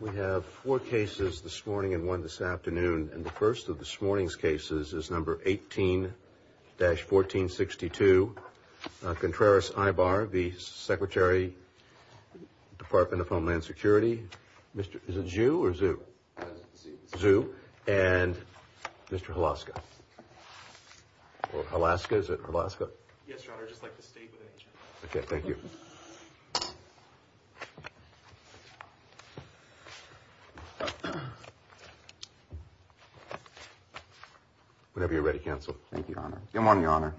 We have four cases this morning and one this afternoon. And the first of this morning's cases is number 18-1462. Contreras Aybar v. Secretary Department of Homeland Security. Is it ZHU or ZHU? ZHU. ZHU. And Mr. Hlaska. Or Alaska. Is it Alaska? Yes, Your Honor. Just like the state with H. Okay. Thank you. ZHU. Whenever you're ready, Counsel. Thank you, Your Honor. Good morning, Your Honor.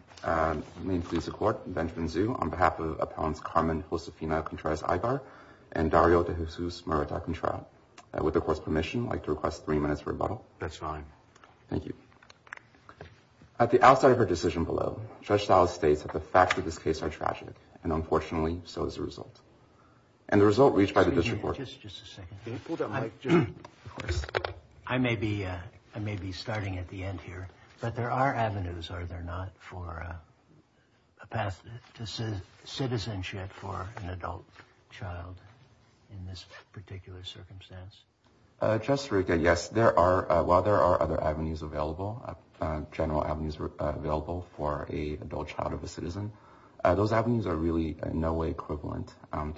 May it please the Court, Benjamin Zhu on behalf of Appellants Carmen Josefina Contreras Aybar and Dario De Jesus Murata Contreras. With the Court's permission, I'd like to request three minutes for rebuttal. That's fine. Thank you. At the outset of her decision below, Judge Stiles states that the facts of this case are tragic and unfortunately so is the result. And the result reached by the district court. Just a second. Can you pull down the mic, Judge? Of course. I may be starting at the end here, but there are avenues, are there not, for a path to citizenship for an adult child in this particular circumstance? Judge Sirica, yes, there are. Those avenues are really in no way equivalent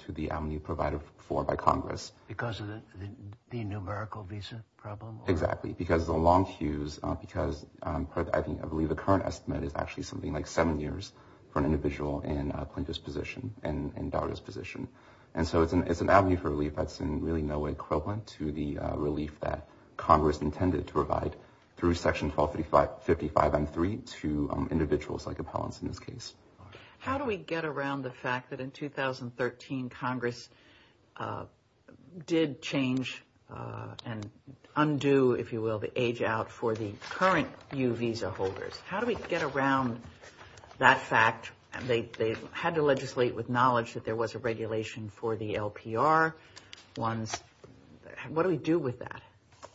to the avenue provided for by Congress. Because of the numerical visa problem? Exactly. Because the long queues, because I believe the current estimate is actually something like seven years for an individual in a plaintiff's position, in a daughter's position. And so it's an avenue for relief that's in really no way equivalent to the relief that Congress intended to provide through Section 1255M3 to individuals like appellants in this case. How do we get around the fact that in 2013 Congress did change and undo, if you will, the age out for the current U visa holders? How do we get around that fact? They had to legislate with knowledge that there was a regulation for the LPR ones. What do we do with that?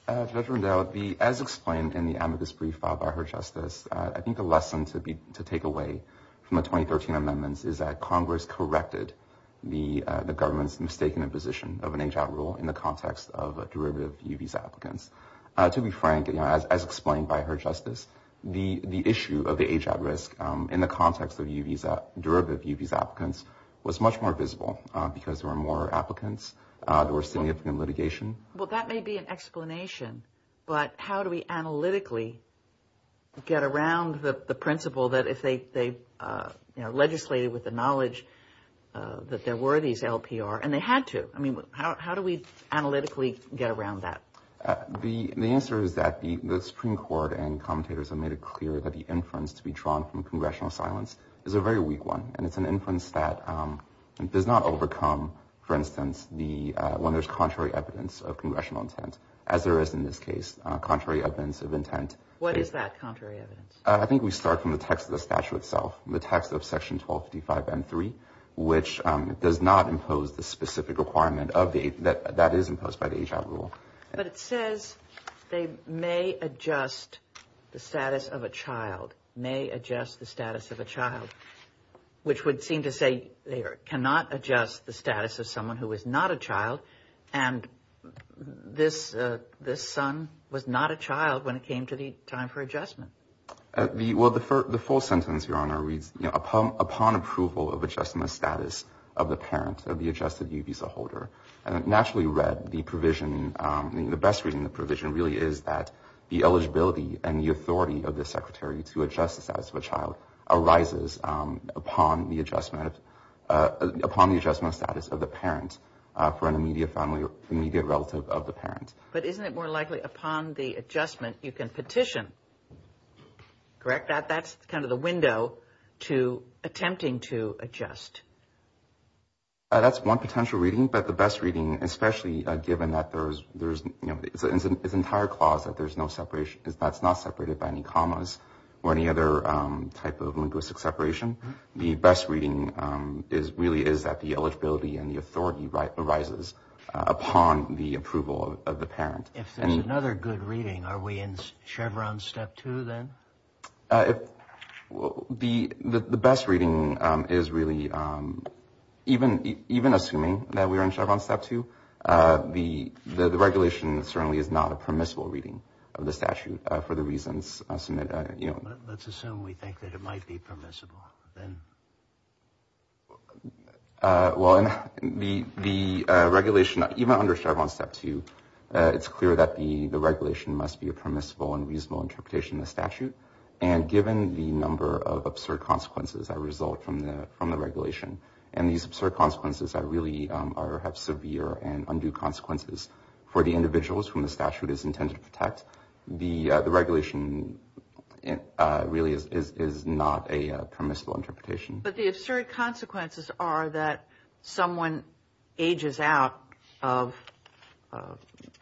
Judge Rundell, as explained in the amicus brief filed by Her Justice, I think the lesson to take away from the 2013 amendments is that Congress corrected the government's mistaken imposition of an age out rule in the context of derivative U visa applicants. To be frank, as explained by Her Justice, the issue of the age out risk in the context of U visa, derivative U visa applicants, was much more visible because there were more applicants, there were significant litigation. Well, that may be an explanation, but how do we analytically get around the principle that if they legislated with the knowledge that there were these LPR, and they had to, I mean, how do we analytically get around that? The answer is that the Supreme Court and commentators have made it clear that the inference to be drawn from congressional silence is a very weak one, and it's an inference that does not overcome, for instance, when there's contrary evidence of congressional intent, as there is in this case, contrary evidence of intent. What is that contrary evidence? I think we start from the text of the statute itself, the text of Section 1255 and 3, which does not impose the specific requirement that is imposed by the age out rule. But it says they may adjust the status of a child, may adjust the status of a child, which would seem to say they cannot adjust the status of someone who is not a child, and this son was not a child when it came to the time for adjustment. Well, the full sentence, Your Honor, reads, upon approval of adjusting the status of the parent of the adjusted U visa holder, naturally read the provision, the best reading of the provision really is that the eligibility and the authority of the secretary to adjust the status of a child arises upon the adjustment, upon the adjustment of status of the parent for an immediate relative of the parent. But isn't it more likely upon the adjustment you can petition, correct? That's kind of the window to attempting to adjust. That's one potential reading, but the best reading, especially given that there's this entire clause that there's no separation, that's not separated by any commas or any other type of linguistic separation, the best reading really is that the eligibility and the authority arises upon the approval of the parent. If there's another good reading, are we in Chevron Step 2 then? The best reading is really, even assuming that we are in Chevron Step 2, the regulation certainly is not a permissible reading of the statute for the reasons submitted. Let's assume we think that it might be permissible. Well, the regulation, even under Chevron Step 2, it's clear that the regulation must be a permissible and reasonable interpretation of the statute. And given the number of absurd consequences that result from the regulation, and these absurd consequences really have severe and undue consequences for the individuals whom the statute is intended to protect, the regulation really is not a permissible interpretation. But the absurd consequences are that someone ages out of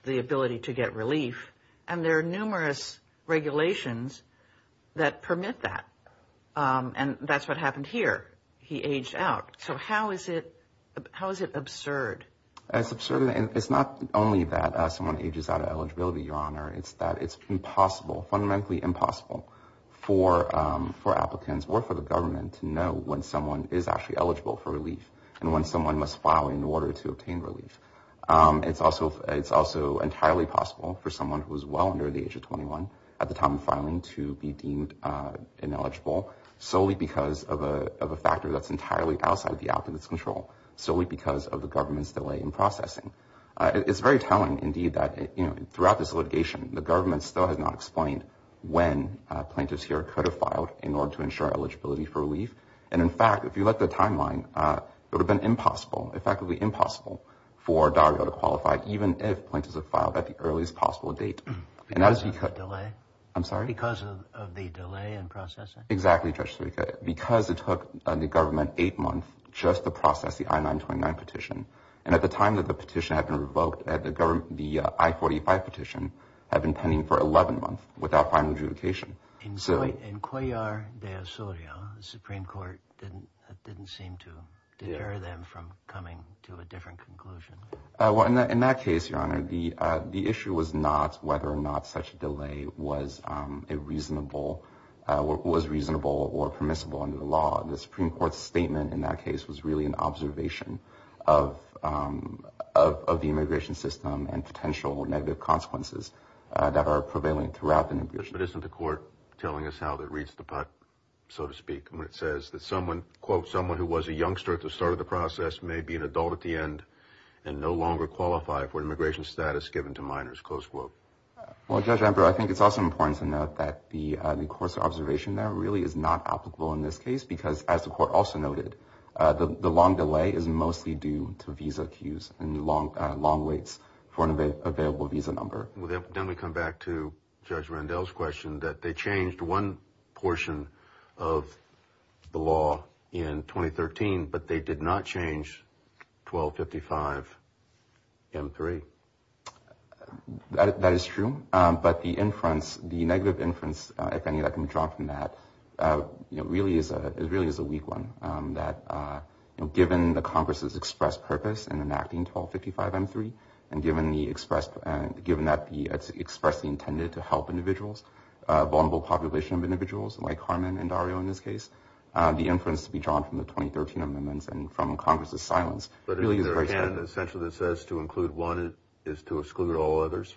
the ability to get relief, and there are numerous regulations that permit that. And that's what happened here. He aged out. So how is it absurd? It's absurd. It's that it's impossible, fundamentally impossible, for applicants or for the government to know when someone is actually eligible for relief and when someone must file in order to obtain relief. It's also entirely possible for someone who is well under the age of 21 at the time of filing to be deemed ineligible solely because of a factor that's entirely outside the applicant's control, solely because of the government's delay in processing. It's very telling, indeed, that throughout this litigation, the government still has not explained when plaintiffs here could have filed in order to ensure eligibility for relief. And, in fact, if you look at the timeline, it would have been impossible, effectively impossible, for Dario to qualify even if plaintiffs had filed at the earliest possible date. Because of the delay? I'm sorry? Because of the delay in processing? Exactly, Judge Serica. Because it took the government eight months just to process the I-929 petition. And at the time that the petition had been revoked, the I-45 petition had been pending for 11 months without final adjudication. In Cuellar de Osorio, the Supreme Court didn't seem to deter them from coming to a different conclusion. Well, in that case, Your Honor, the issue was not whether or not such a delay was reasonable or permissible under the law. The Supreme Court's statement in that case was really an observation of the immigration system and potential negative consequences that are prevailing throughout the immigration system. But isn't the court telling us how that reads the pot, so to speak, when it says that someone, quote, someone who was a youngster at the start of the process may be an adult at the end and no longer qualify for immigration status given to minors, close quote? Well, Judge Amber, I think it's also important to note that the course of observation there really is not applicable in this case because, as the court also noted, the long delay is mostly due to visa queues and long waits for an available visa number. Then we come back to Judge Randell's question that they changed one portion of the law in 2013, but they did not change 1255M3. That is true. But the inference, the negative inference, if any, that can be drawn from that really is a weak one, that given the Congress's expressed purpose in enacting 1255M3 and given that it's expressly intended to help individuals, a vulnerable population of individuals, like Carmen and Dario in this case, the inference to be drawn from the 2013 amendments and from Congress's silence really is very strong. So the canon essentially that says to include one is to exclude all others?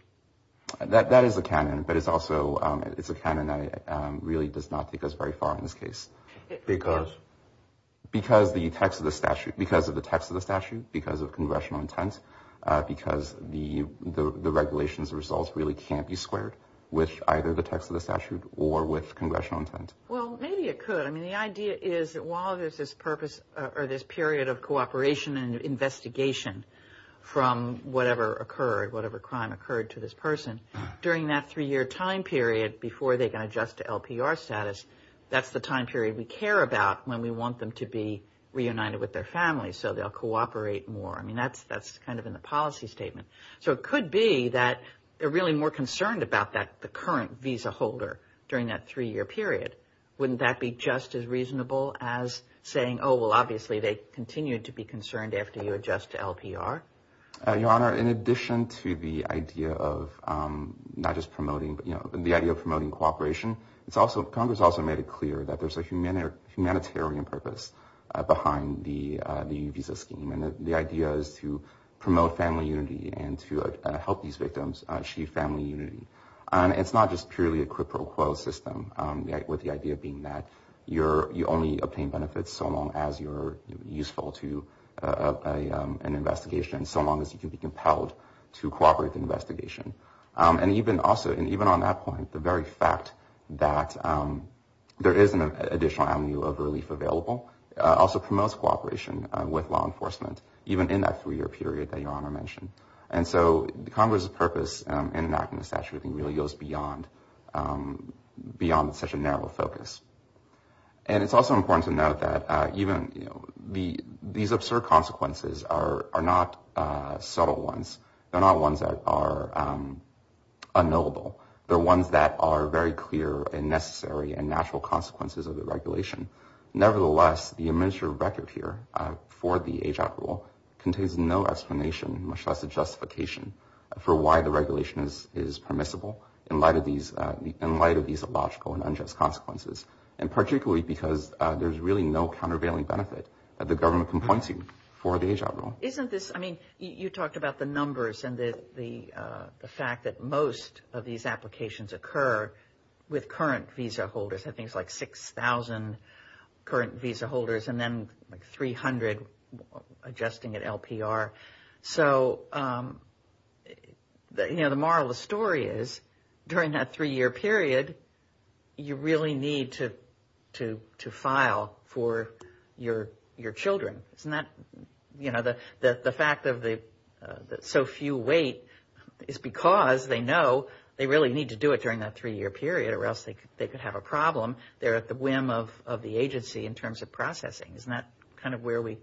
That is the canon, but it's also a canon that really does not take us very far in this case. Because? Because of the text of the statute, because of congressional intent, because the regulations results really can't be squared with either the text of the statute or with congressional intent. Well, maybe it could. I mean, the idea is that while there's this purpose or this period of cooperation and investigation from whatever occurred, whatever crime occurred to this person, during that three-year time period before they can adjust to LPR status, that's the time period we care about when we want them to be reunited with their family so they'll cooperate more. I mean, that's kind of in the policy statement. So it could be that they're really more concerned about the current visa holder during that three-year period. Wouldn't that be just as reasonable as saying, oh, well, obviously they continue to be concerned after you adjust to LPR? Your Honor, in addition to the idea of not just promoting, you know, the idea of promoting cooperation, Congress also made it clear that there's a humanitarian purpose behind the visa scheme. And the idea is to promote family unity and to help these victims achieve family unity. And it's not just purely a quid pro quo system with the idea being that you only obtain benefits so long as you're useful to an investigation, so long as you can be compelled to cooperate the investigation. And even on that point, the very fact that there is an additional avenue of relief available also promotes cooperation with law enforcement, even in that three-year period that Your Honor mentioned. And so Congress' purpose in enacting the statute I think really goes beyond such a narrow focus. And it's also important to note that even, you know, these absurd consequences are not subtle ones. They're not ones that are unknowable. They're ones that are very clear and necessary and natural consequences of the regulation. Nevertheless, the administrative record here for the H-Act rule contains no explanation, much less a justification for why the regulation is permissible in light of these illogical and unjust consequences, and particularly because there's really no countervailing benefit that the government can point to for the H-Act rule. Isn't this – I mean, you talked about the numbers and the fact that most of these applications occur with current visa holders. I think it's like 6,000 current visa holders and then like 300 adjusting at LPR. So, you know, the moral of the story is during that three-year period, you really need to file for your children. Isn't that – you know, the fact that so few wait is because they know they really need to do it during that three-year period or else they could have a problem. They're at the whim of the agency in terms of processing. Isn't that kind of where we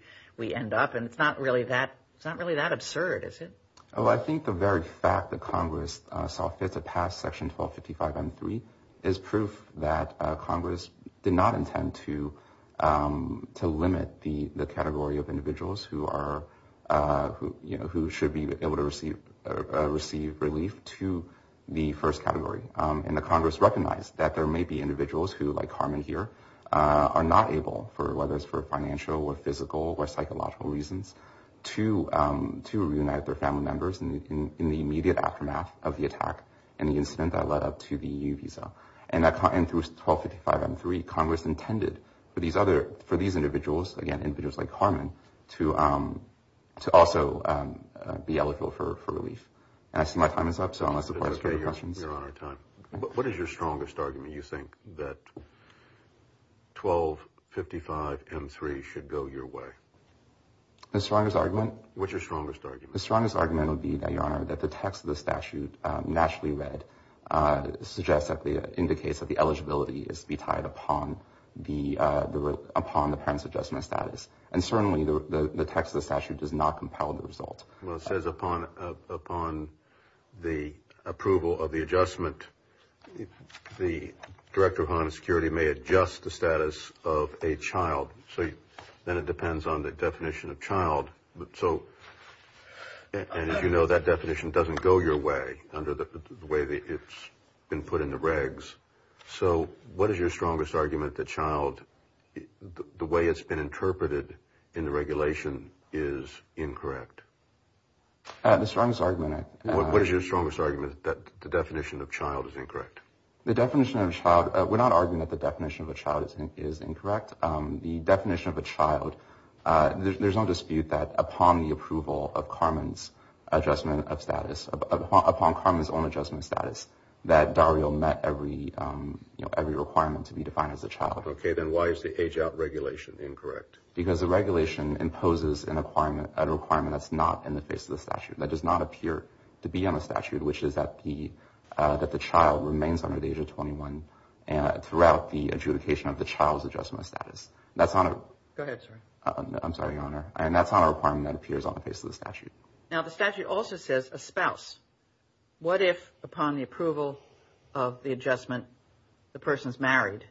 end up? And it's not really that – it's not really that absurd, is it? Well, I think the very fact that Congress saw fit to pass Section 1255.3 is proof that Congress did not intend to limit the category of individuals who are – you know, who should be able to receive relief to the first category. And that Congress recognized that there may be individuals who, like Carmen here, are not able for – whether it's for financial or physical or psychological reasons to reunite their family members in the immediate aftermath of the attack and the incident that led up to the EU visa. And through 1255.3, Congress intended for these other – for these individuals, again, individuals like Carmen, to also be eligible for relief. And I see my time is up, so unless – Okay, Your Honor, time. What is your strongest argument you think that 1255.3 should go your way? The strongest argument? What's your strongest argument? The strongest argument would be, Your Honor, that the text of the statute, nationally read, suggests that the – indicates that the eligibility is to be tied upon the – upon the parents' adjustment status. And certainly, the text of the statute does not compel the result. Well, it says upon the approval of the adjustment, the Director of Homeland Security may adjust the status of a child. So then it depends on the definition of child. So – and as you know, that definition doesn't go your way under the way that it's been put in the regs. So what is your strongest argument that child – the way it's been interpreted in the regulation is incorrect? The strongest argument – What is your strongest argument that the definition of child is incorrect? The definition of child – we're not arguing that the definition of a child is incorrect. The definition of a child – there's no dispute that upon the approval of Carmen's adjustment of status – upon Carmen's own adjustment of status, that Dario met every requirement to be defined as a child. Okay. Then why is the age-out regulation incorrect? Because the regulation imposes a requirement that's not in the face of the statute, that does not appear to be on the statute, which is that the child remains under the age of 21 throughout the adjudication of the child's adjustment of status. That's not a – Go ahead, sir. I'm sorry, Your Honor. And that's not a requirement that appears on the face of the statute. Now, the statute also says a spouse. What if, upon the approval of the adjustment, the person's married,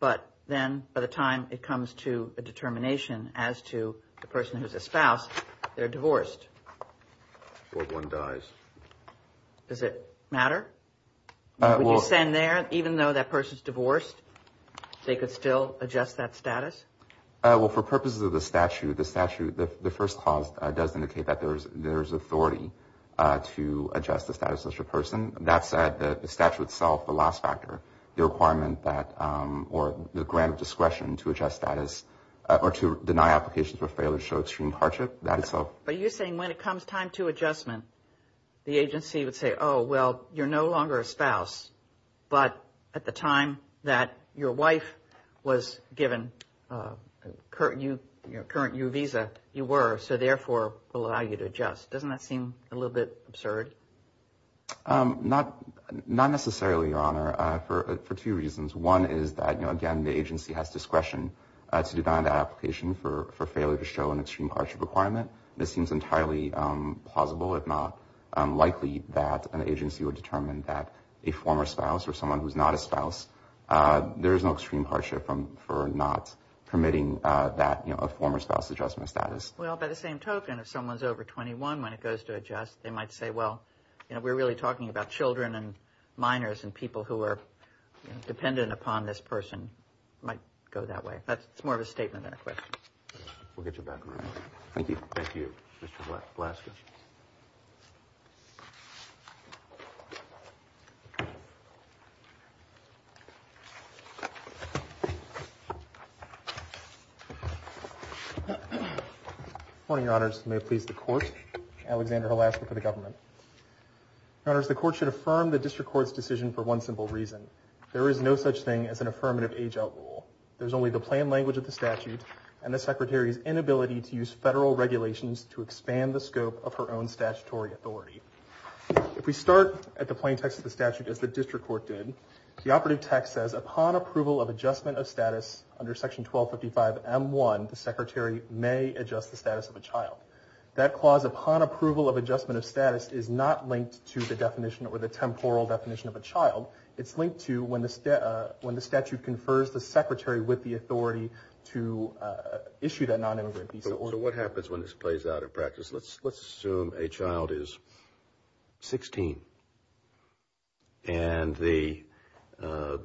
but then by the time it comes to a determination as to the person who's a spouse, they're divorced? Or one dies. Does it matter? Would you stand there, even though that person's divorced, they could still adjust that status? Well, for purposes of the statute, the first clause does indicate that there's authority to adjust the status of such a person. That said, the statute itself, the last factor, the requirement that – or the grant of discretion to adjust status or to deny application for failure to show extreme hardship, that itself. But you're saying when it comes time to adjustment, the agency would say, oh, well, you're no longer a spouse, but at the time that your wife was given your current U visa, you were, so therefore we'll allow you to adjust. Doesn't that seem a little bit absurd? Not necessarily, Your Honor, for two reasons. One is that, again, the agency has discretion to deny the application for failure to show an extreme hardship requirement. It seems entirely plausible, if not likely, that an agency would determine that a former spouse or someone who's not a spouse, there is no extreme hardship for not permitting that former spouse adjustment status. Well, by the same token, if someone's over 21, when it goes to adjust, they might say, well, we're really talking about children and minors and people who are dependent upon this person might go that way. That's more of a statement than a question. We'll get you back around. Thank you. Thank you, Mr. Velasquez. Good morning, Your Honors. May it please the Court. Alexander Velasquez for the government. Your Honors, the Court should affirm the District Court's decision for one simple reason. There is no such thing as an affirmative age-out rule. There's only the plain language of the statute and the Secretary's inability to use federal regulations to expand the scope of her own statutory authority. If we start at the plain text of the statute, as the District Court did, the operative text says, upon approval of adjustment of status under Section 1255M1, the Secretary may adjust the status of a child. That clause, upon approval of adjustment of status, is not linked to the definition or the temporal definition of a child. It's linked to when the statute confers the Secretary with the authority to issue that nonimmigrant visa. So what happens when this plays out in practice? Let's assume a child is 16 and the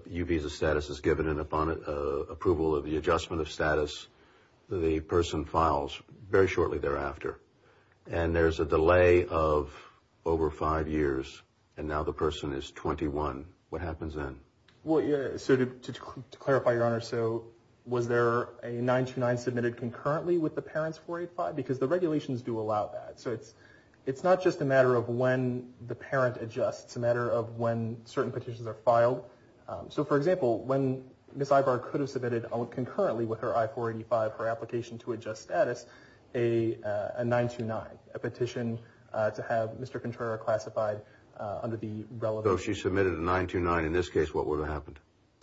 U visa status is given, and upon approval of the adjustment of status, the person files very shortly thereafter. And there's a delay of over five years, and now the person is 21. What happens then? Well, so to clarify, Your Honor, so was there a 929 submitted concurrently with the parent's 485? Because the regulations do allow that. So it's not just a matter of when the parent adjusts. It's a matter of when certain petitions are filed. So, for example, when Ms. Ivar could have submitted concurrently with her I-485, her application to adjust status, a 929, a petition to have Mr. Contrera classified under the relevant— So if she submitted a 929 in this case, what would have happened?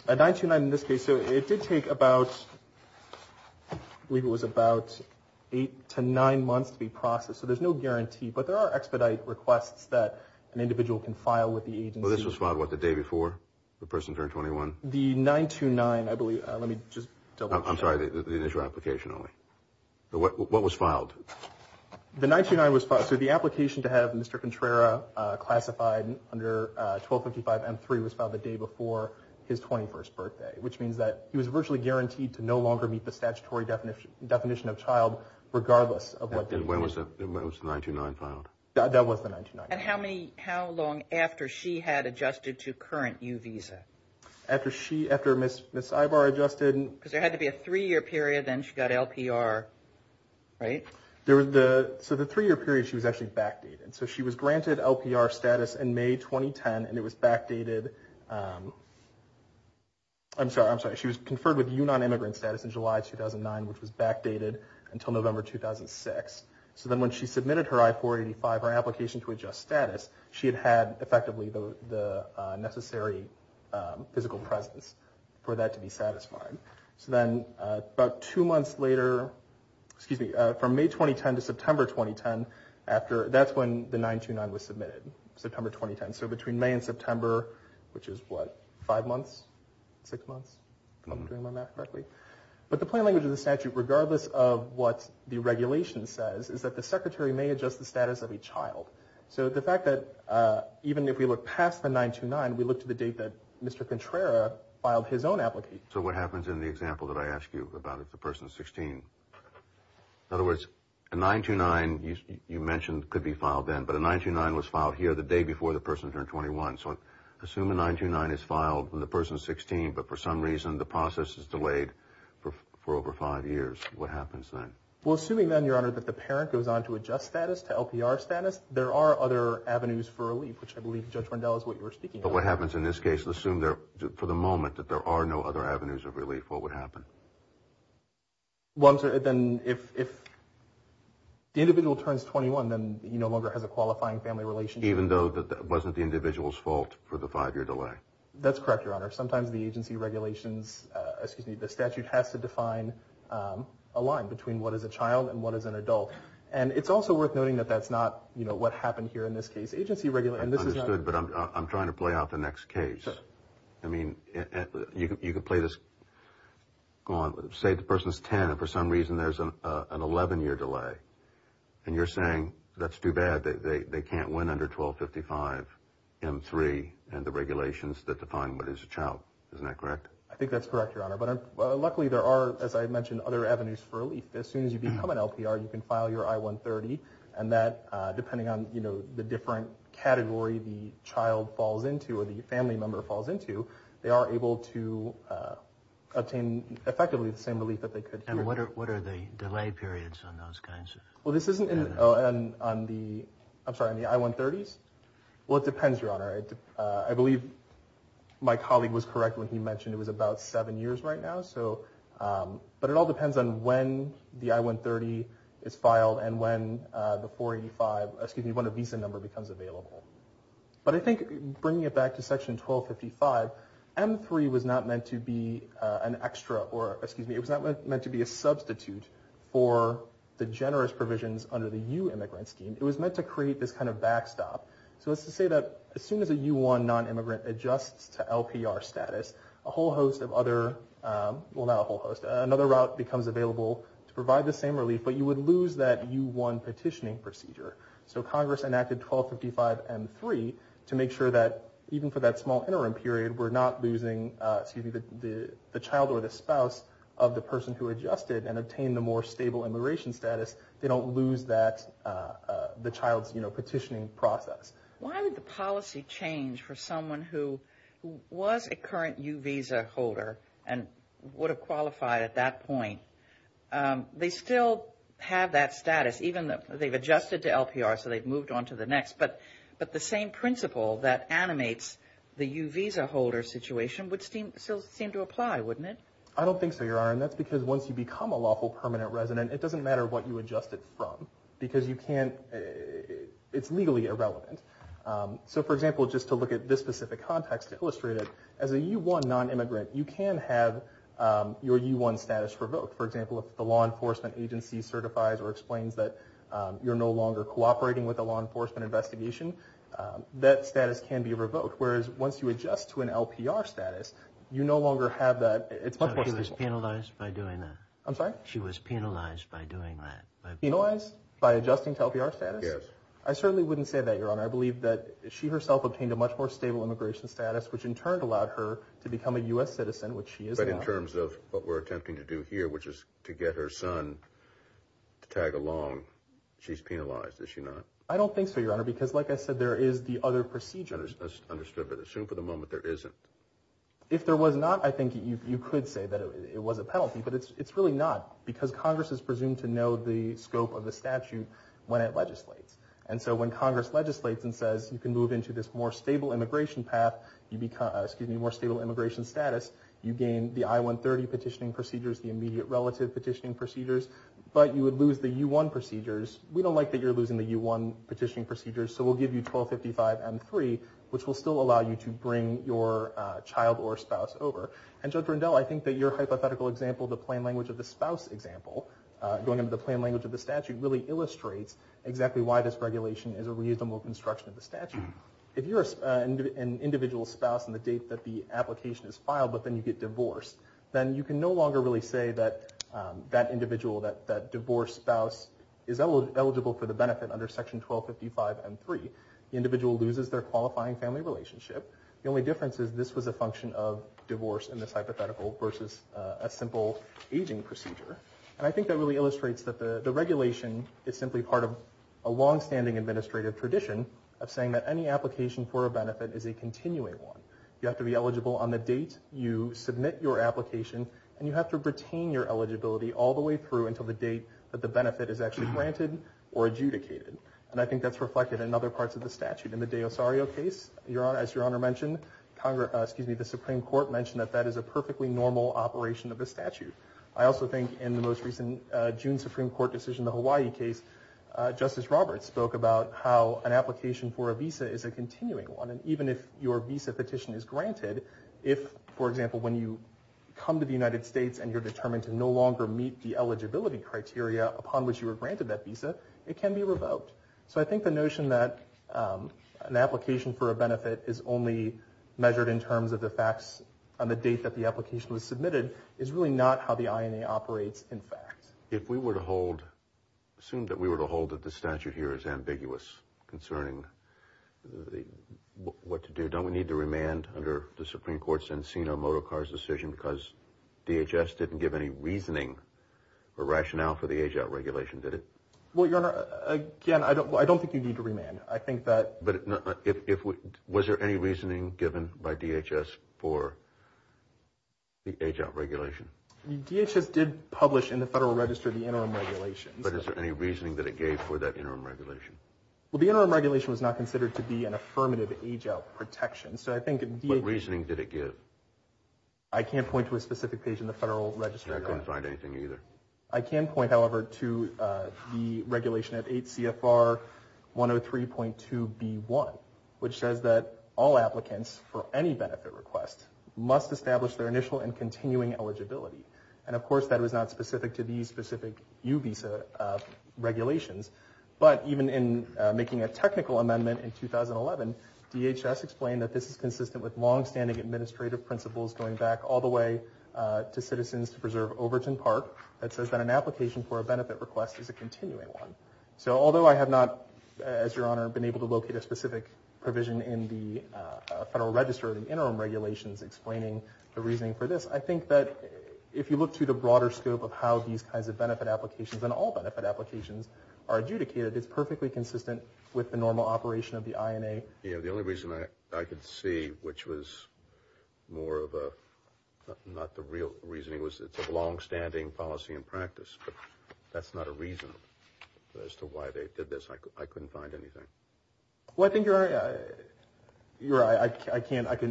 A 929 in this case, so it did take about—I believe it was about eight to nine months to be processed. So there's no guarantee. But there are expedite requests that an individual can file with the agency. Well, this was filed, what, the day before the person turned 21? The 929, I believe—let me just double check. I'm sorry, the initial application only. What was filed? The 929 was filed. So the application to have Mr. Contrera classified under 1255 M-3 was filed the day before his 21st birthday, which means that he was virtually guaranteed to no longer meet the statutory definition of child, regardless of what— When was the 929 filed? That was the 929. And how long after she had adjusted to current U visa? After she—after Ms. Ivar adjusted— Because there had to be a three-year period, then she got LPR, right? So the three-year period, she was actually backdated. So she was granted LPR status in May 2010, and it was backdated—I'm sorry, I'm sorry. She was conferred with UNAN immigrant status in July 2009, which was backdated until November 2006. So then when she submitted her I-485, her application to adjust status, she had had effectively the necessary physical presence for that to be satisfied. So then about two months later—excuse me, from May 2010 to September 2010, that's when the 929 was submitted, September 2010. So between May and September, which is what, five months, six months? If I'm doing my math correctly. But the plain language of the statute, regardless of what the regulation says, is that the secretary may adjust the status of a child. So the fact that even if we look past the 929, we look to the date that Mr. Contrera filed his own application. So what happens in the example that I asked you about, if the person is 16? In other words, a 929, you mentioned, could be filed then, but a 929 was filed here the day before the person turned 21. So assume a 929 is filed when the person is 16, but for some reason the process is delayed for over five years. What happens then? Well, assuming then, Your Honor, that the parent goes on to adjust status, to LPR status, there are other avenues for relief, which I believe Judge Rundell is what you were speaking about. But what happens in this case? Assume for the moment that there are no other avenues of relief. What would happen? Well, I'm sorry. Then if the individual turns 21, then he no longer has a qualifying family relationship. Even though it wasn't the individual's fault for the five-year delay? That's correct, Your Honor. Sometimes the agency regulations, excuse me, the statute, has to define a line between what is a child and what is an adult. And it's also worth noting that that's not what happened here in this case. Understood, but I'm trying to play out the next case. I mean, you could play this, go on, say the person is 10, and for some reason there's an 11-year delay. And you're saying that's too bad, they can't win under 1255 M3 and the regulations that define what is a child. Isn't that correct? I think that's correct, Your Honor. But luckily there are, as I mentioned, other avenues for relief. As soon as you become an LPR, you can file your I-130, and that, depending on the different category the child falls into or the family member falls into, they are able to obtain effectively the same relief that they could. And what are the delay periods on those kinds? Well, this isn't on the, I'm sorry, on the I-130s? Well, it depends, Your Honor. I believe my colleague was correct when he mentioned it was about seven years right now. But it all depends on when the I-130 is filed and when the 485, excuse me, when the visa number becomes available. But I think bringing it back to Section 1255, M3 was not meant to be an extra or, excuse me, it was not meant to be a substitute for the generous provisions under the U-immigrant scheme. It was meant to create this kind of backstop. So that's to say that as soon as a U-1 non-immigrant adjusts to LPR status, a whole host of other, well, not a whole host, another route becomes available to provide the same relief, but you would lose that U-1 petitioning procedure. So Congress enacted 1255 M3 to make sure that even for that small interim period, we're not losing, excuse me, the child or the spouse of the person who adjusted and obtained the more stable immigration status. They don't lose that, the child's, you know, petitioning process. Why did the policy change for someone who was a current U-visa holder and would have qualified at that point? They still have that status, even though they've adjusted to LPR, so they've moved on to the next. But the same principle that animates the U-visa holder situation would still seem to apply, wouldn't it? I don't think so, Your Honor, and that's because once you become a lawful permanent resident, it doesn't matter what you adjust it from because you can't, it's legally irrelevant. So, for example, just to look at this specific context to illustrate it, as a U-1 nonimmigrant, you can have your U-1 status revoked. For example, if the law enforcement agency certifies or explains that you're no longer cooperating with a law enforcement investigation, that status can be revoked, whereas once you adjust to an LPR status, you no longer have that. It's much more simple. She was penalized by doing that? I'm sorry? She was penalized by doing that? Penalized by adjusting to LPR status? Yes. I certainly wouldn't say that, Your Honor. I believe that she herself obtained a much more stable immigration status, which in turn allowed her to become a U.S. citizen, which she is now. But in terms of what we're attempting to do here, which is to get her son to tag along, she's penalized, is she not? I don't think so, Your Honor, because, like I said, there is the other procedure. Understood, but assume for the moment there isn't. If there was not, I think you could say that it was a penalty, but it's really not because Congress is presumed to know the scope of the statute when it legislates. And so when Congress legislates and says you can move into this more stable immigration path, excuse me, more stable immigration status, you gain the I-130 petitioning procedures, the immediate relative petitioning procedures, but you would lose the U-1 procedures. We don't like that you're losing the U-1 petitioning procedures, so we'll give you 1255 M-3, which will still allow you to bring your child or spouse over. And, Judge Rundell, I think that your hypothetical example, the plain language of the spouse example, going into the plain language of the statute, really illustrates exactly why this regulation is a reasonable construction of the statute. If you're an individual spouse on the date that the application is filed, but then you get divorced, then you can no longer really say that that individual, that divorced spouse, is eligible for the benefit under Section 1255 M-3. The individual loses their qualifying family relationship. The only difference is this was a function of divorce in this hypothetical versus a simple aging procedure. And I think that really illustrates that the regulation is simply part of a longstanding administrative tradition of saying that any application for a benefit is a continuing one. You have to be eligible on the date you submit your application, and you have to retain your eligibility all the way through until the date that the benefit is actually granted or adjudicated. And I think that's reflected in other parts of the statute. In the De Osario case, as Your Honor mentioned, the Supreme Court mentioned that that is a perfectly normal operation of the statute. I also think in the most recent June Supreme Court decision, the Hawaii case, Justice Roberts spoke about how an application for a visa is a continuing one, and even if your visa petition is granted, if, for example, when you come to the United States and you're determined to no longer meet the eligibility criteria upon which you were granted that visa, it can be revoked. So I think the notion that an application for a benefit is only measured in terms of the facts on the date that the application was submitted is really not how the INA operates in fact. If we were to hold, assume that we were to hold that the statute here is ambiguous concerning what to do, don't we need to remand under the Supreme Court's Encino-Motocar's decision because DHS didn't give any reasoning or rationale for the age-out regulation, did it? Well, Your Honor, again, I don't think you need to remand. I think that – But was there any reasoning given by DHS for the age-out regulation? DHS did publish in the Federal Register the interim regulation. But is there any reasoning that it gave for that interim regulation? Well, the interim regulation was not considered to be an affirmative age-out protection, so I think – What reasoning did it give? I can't point to a specific page in the Federal Register. And I couldn't find anything either. I can point, however, to the regulation at 8 CFR 103.2B1, which says that all applicants for any benefit request must establish their initial and continuing eligibility. And, of course, that was not specific to these specific U-Visa regulations. But even in making a technical amendment in 2011, DHS explained that this is consistent with long-standing administrative principles going back all the way to Citizens to Preserve Overton Park that says that an application for a benefit request is a continuing one. So although I have not, as Your Honor, been able to locate a specific provision in the Federal Register of the interim regulations explaining the reasoning for this, I think that if you look through the broader scope of how these kinds of benefit applications and all benefit applications are adjudicated, it's perfectly consistent with the normal operation of the INA. The only reason I could see, which was more of a not the real reasoning, was it's a long-standing policy and practice. But that's not a reason as to why they did this. I couldn't find anything. Well, I think, Your Honor,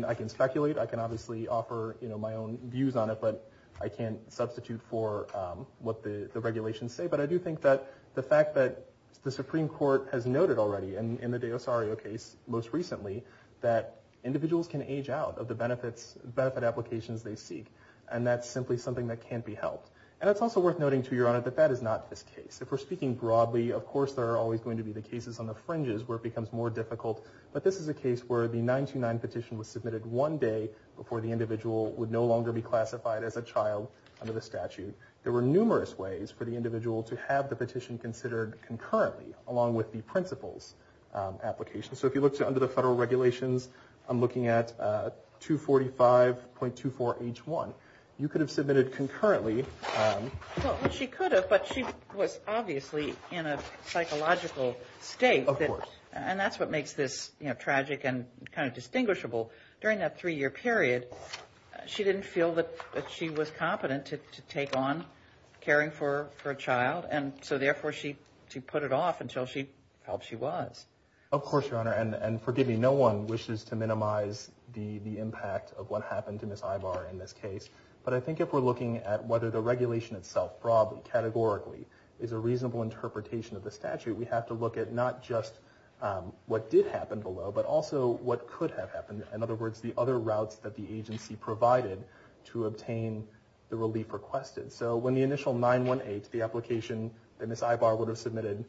I can speculate. I can obviously offer my own views on it, but I can't substitute for what the regulations say. But I do think that the fact that the Supreme Court has noted already in the De Ossario case most recently that individuals can age out of the benefit applications they seek. And that's simply something that can't be helped. And it's also worth noting, too, Your Honor, that that is not this case. If we're speaking broadly, of course there are always going to be the cases on the fringes where it becomes more difficult. But this is a case where the 929 petition was submitted one day before the individual would no longer be classified as a child under the statute. There were numerous ways for the individual to have the petition considered concurrently along with the principles application. So if you look under the federal regulations, I'm looking at 245.24H1. You could have submitted concurrently. Well, she could have, but she was obviously in a psychological state. Of course. And that's what makes this tragic and kind of distinguishable. During that three-year period, she didn't feel that she was competent to take on caring for a child. And so, therefore, she put it off until she felt she was. Of course, Your Honor. And forgive me, no one wishes to minimize the impact of what happened to Ms. Ivar in this case. But I think if we're looking at whether the regulation itself broadly, categorically, is a reasonable interpretation of the statute, we have to look at not just what did happen below, but also what could have happened. In other words, the other routes that the agency provided to obtain the relief requested. So when the initial 918, the application that Ms. Ivar would have submitted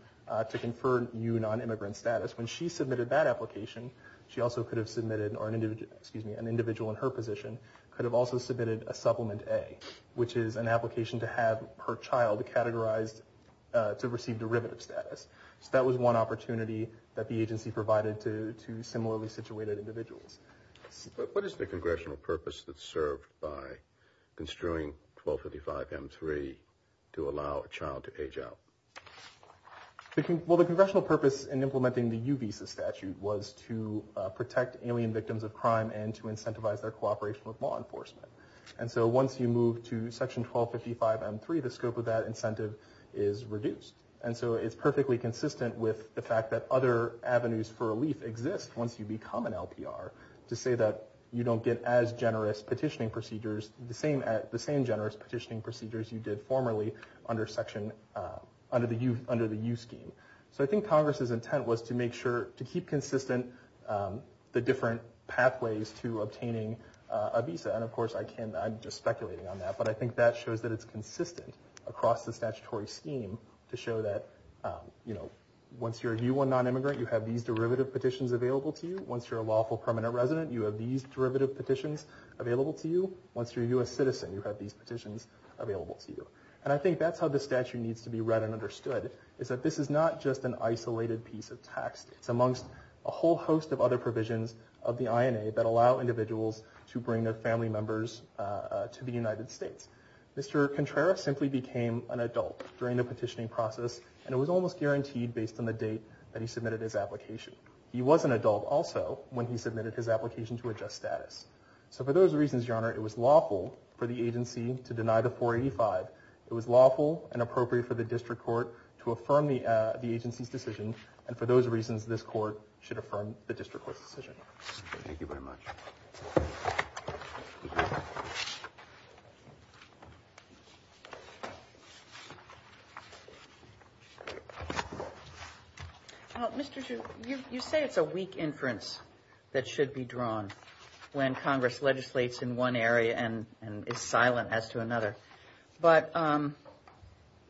to confer new non-immigrant status, when she submitted that application, she also could have submitted, or an individual in her position, could have also submitted a supplement A, which is an application to have her child categorized to receive derivative status. So that was one opportunity that the agency provided to similarly situated individuals. What is the congressional purpose that's served by construing 1255M3 to allow a child to age out? Well, the congressional purpose in implementing the U visa statute was to protect alien victims of crime and to incentivize their cooperation with law enforcement. And so once you move to Section 1255M3, the scope of that incentive is reduced. And so it's perfectly consistent with the fact that other avenues for relief exist once you become an LPR, to say that you don't get as generous petitioning procedures, the same generous petitioning procedures you did formerly under the U scheme. So I think Congress's intent was to make sure, to keep consistent the different pathways to obtaining a visa. And of course, I'm just speculating on that, but I think that shows that it's consistent across the statutory scheme to show that once you're a U1 non-immigrant, you have these derivative petitions available to you. Once you're a lawful permanent resident, you have these derivative petitions available to you. Once you're a U.S. citizen, you have these petitions available to you. And I think that's how the statute needs to be read and understood, is that this is not just an isolated piece of text. It's amongst a whole host of other provisions of the INA that allow individuals to bring their family members to the United States. Mr. Contreras simply became an adult during the petitioning process, and it was almost guaranteed based on the date that he submitted his application. He was an adult also when he submitted his application to adjust status. So for those reasons, Your Honor, it was lawful for the agency to deny the 485. It was lawful and appropriate for the district court to affirm the agency's decision. And for those reasons, this court should affirm the district court's decision. Thank you. Thank you very much. Mr. Chu, you say it's a weak inference that should be drawn when Congress legislates in one area and is silent as to another. But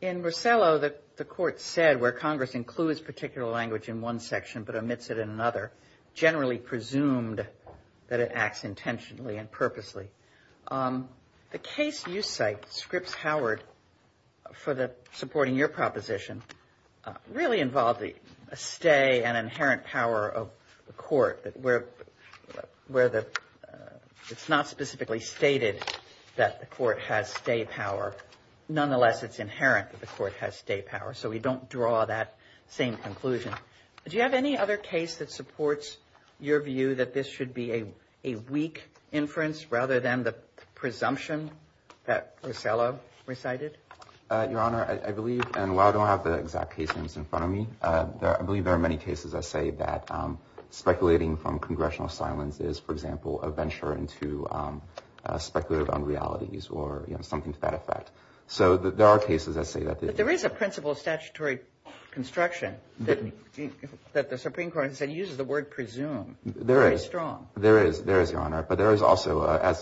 in Rosello, the court said where Congress includes particular language in one section but omits it in another, generally presumed that it acts intentionally and purposely. The case you cite, Scripps-Howard, for supporting your proposition, really involved a stay and inherent power of the court, where it's not specifically stated that the court has stay power. Nonetheless, it's inherent that the court has stay power, so we don't draw that same conclusion. Do you have any other case that supports your view that this should be a weak inference rather than the presumption that Rosello recited? Your Honor, I believe, and while I don't have the exact case names in front of me, I believe there are many cases that say that speculating from congressional silence is, for example, a venture into speculative unrealities or something to that effect. So there are cases that say that. But there is a principle of statutory construction that the Supreme Court has said uses the word presume. There is. Very strong. There is, Your Honor. But there is also, as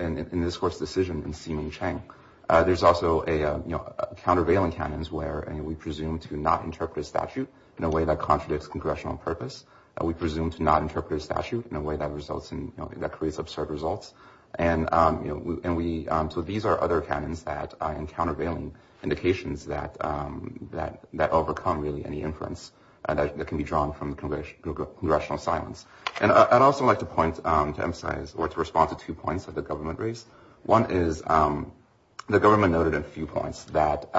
in this court's decision in Si Ming Chang, there's also countervailing canons where we presume to not interpret a statute in a way that contradicts congressional purpose. We presume to not interpret a statute in a way that creates absurd results. And so these are other canons and countervailing indications that overcome, really, any inference that can be drawn from congressional silence. And I'd also like to point to emphasize or to respond to two points that the government raised. One is the government noted a few points that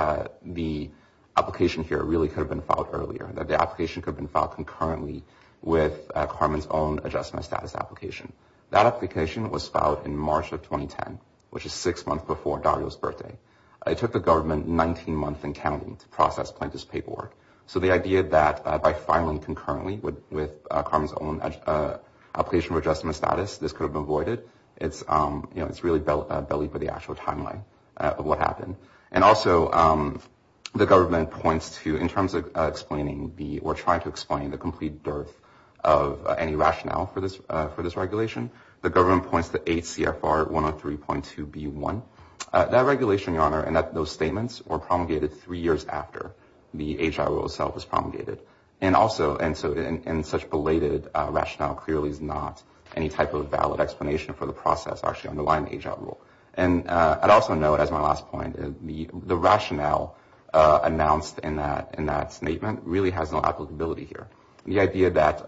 the application here really could have been filed earlier, that the application could have been filed concurrently with Carmen's own adjustment status application. That application was filed in March of 2010, which is six months before Dario's birthday. It took the government 19 months and counting to process Plaintiff's paperwork. So the idea that by filing concurrently with Carmen's own application for adjustment status, this could have been voided, it's really belly for the actual timeline of what happened. And also the government points to, in terms of explaining or trying to explain the complete dearth of any rationale for this regulation, the government points to 8 CFR 103.2B1. That regulation, Your Honor, and those statements were promulgated three years after the H.I. rule itself was promulgated. And also in such belated rationale clearly is not any type of valid explanation for the process actually underlying the H.I. rule. And I'd also note, as my last point, the rationale announced in that statement really has no applicability here. The idea that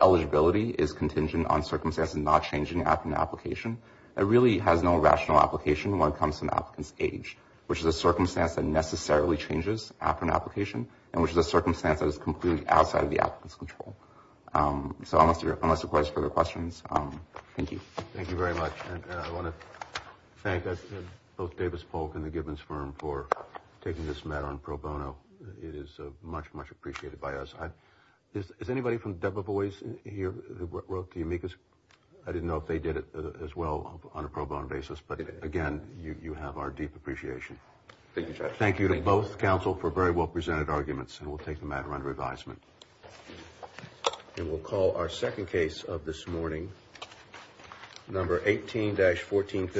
eligibility is contingent on circumstances not changing after an application, it really has no rational application when it comes to an applicant's age, which is a circumstance that necessarily changes after an application, and which is a circumstance that is completely outside of the applicant's control. So unless there are further questions, thank you. Thank you very much. And I want to thank both Davis Polk and the Gibbons firm for taking this matter on pro bono. It is much, much appreciated by us. Is anybody from Debevoise here who wrote to you? I didn't know if they did it as well on a pro bono basis. But, again, you have our deep appreciation. Thank you to both counsel for very well presented arguments. And we'll take the matter under advisement. And we'll call our second case of this morning, number 18-1450.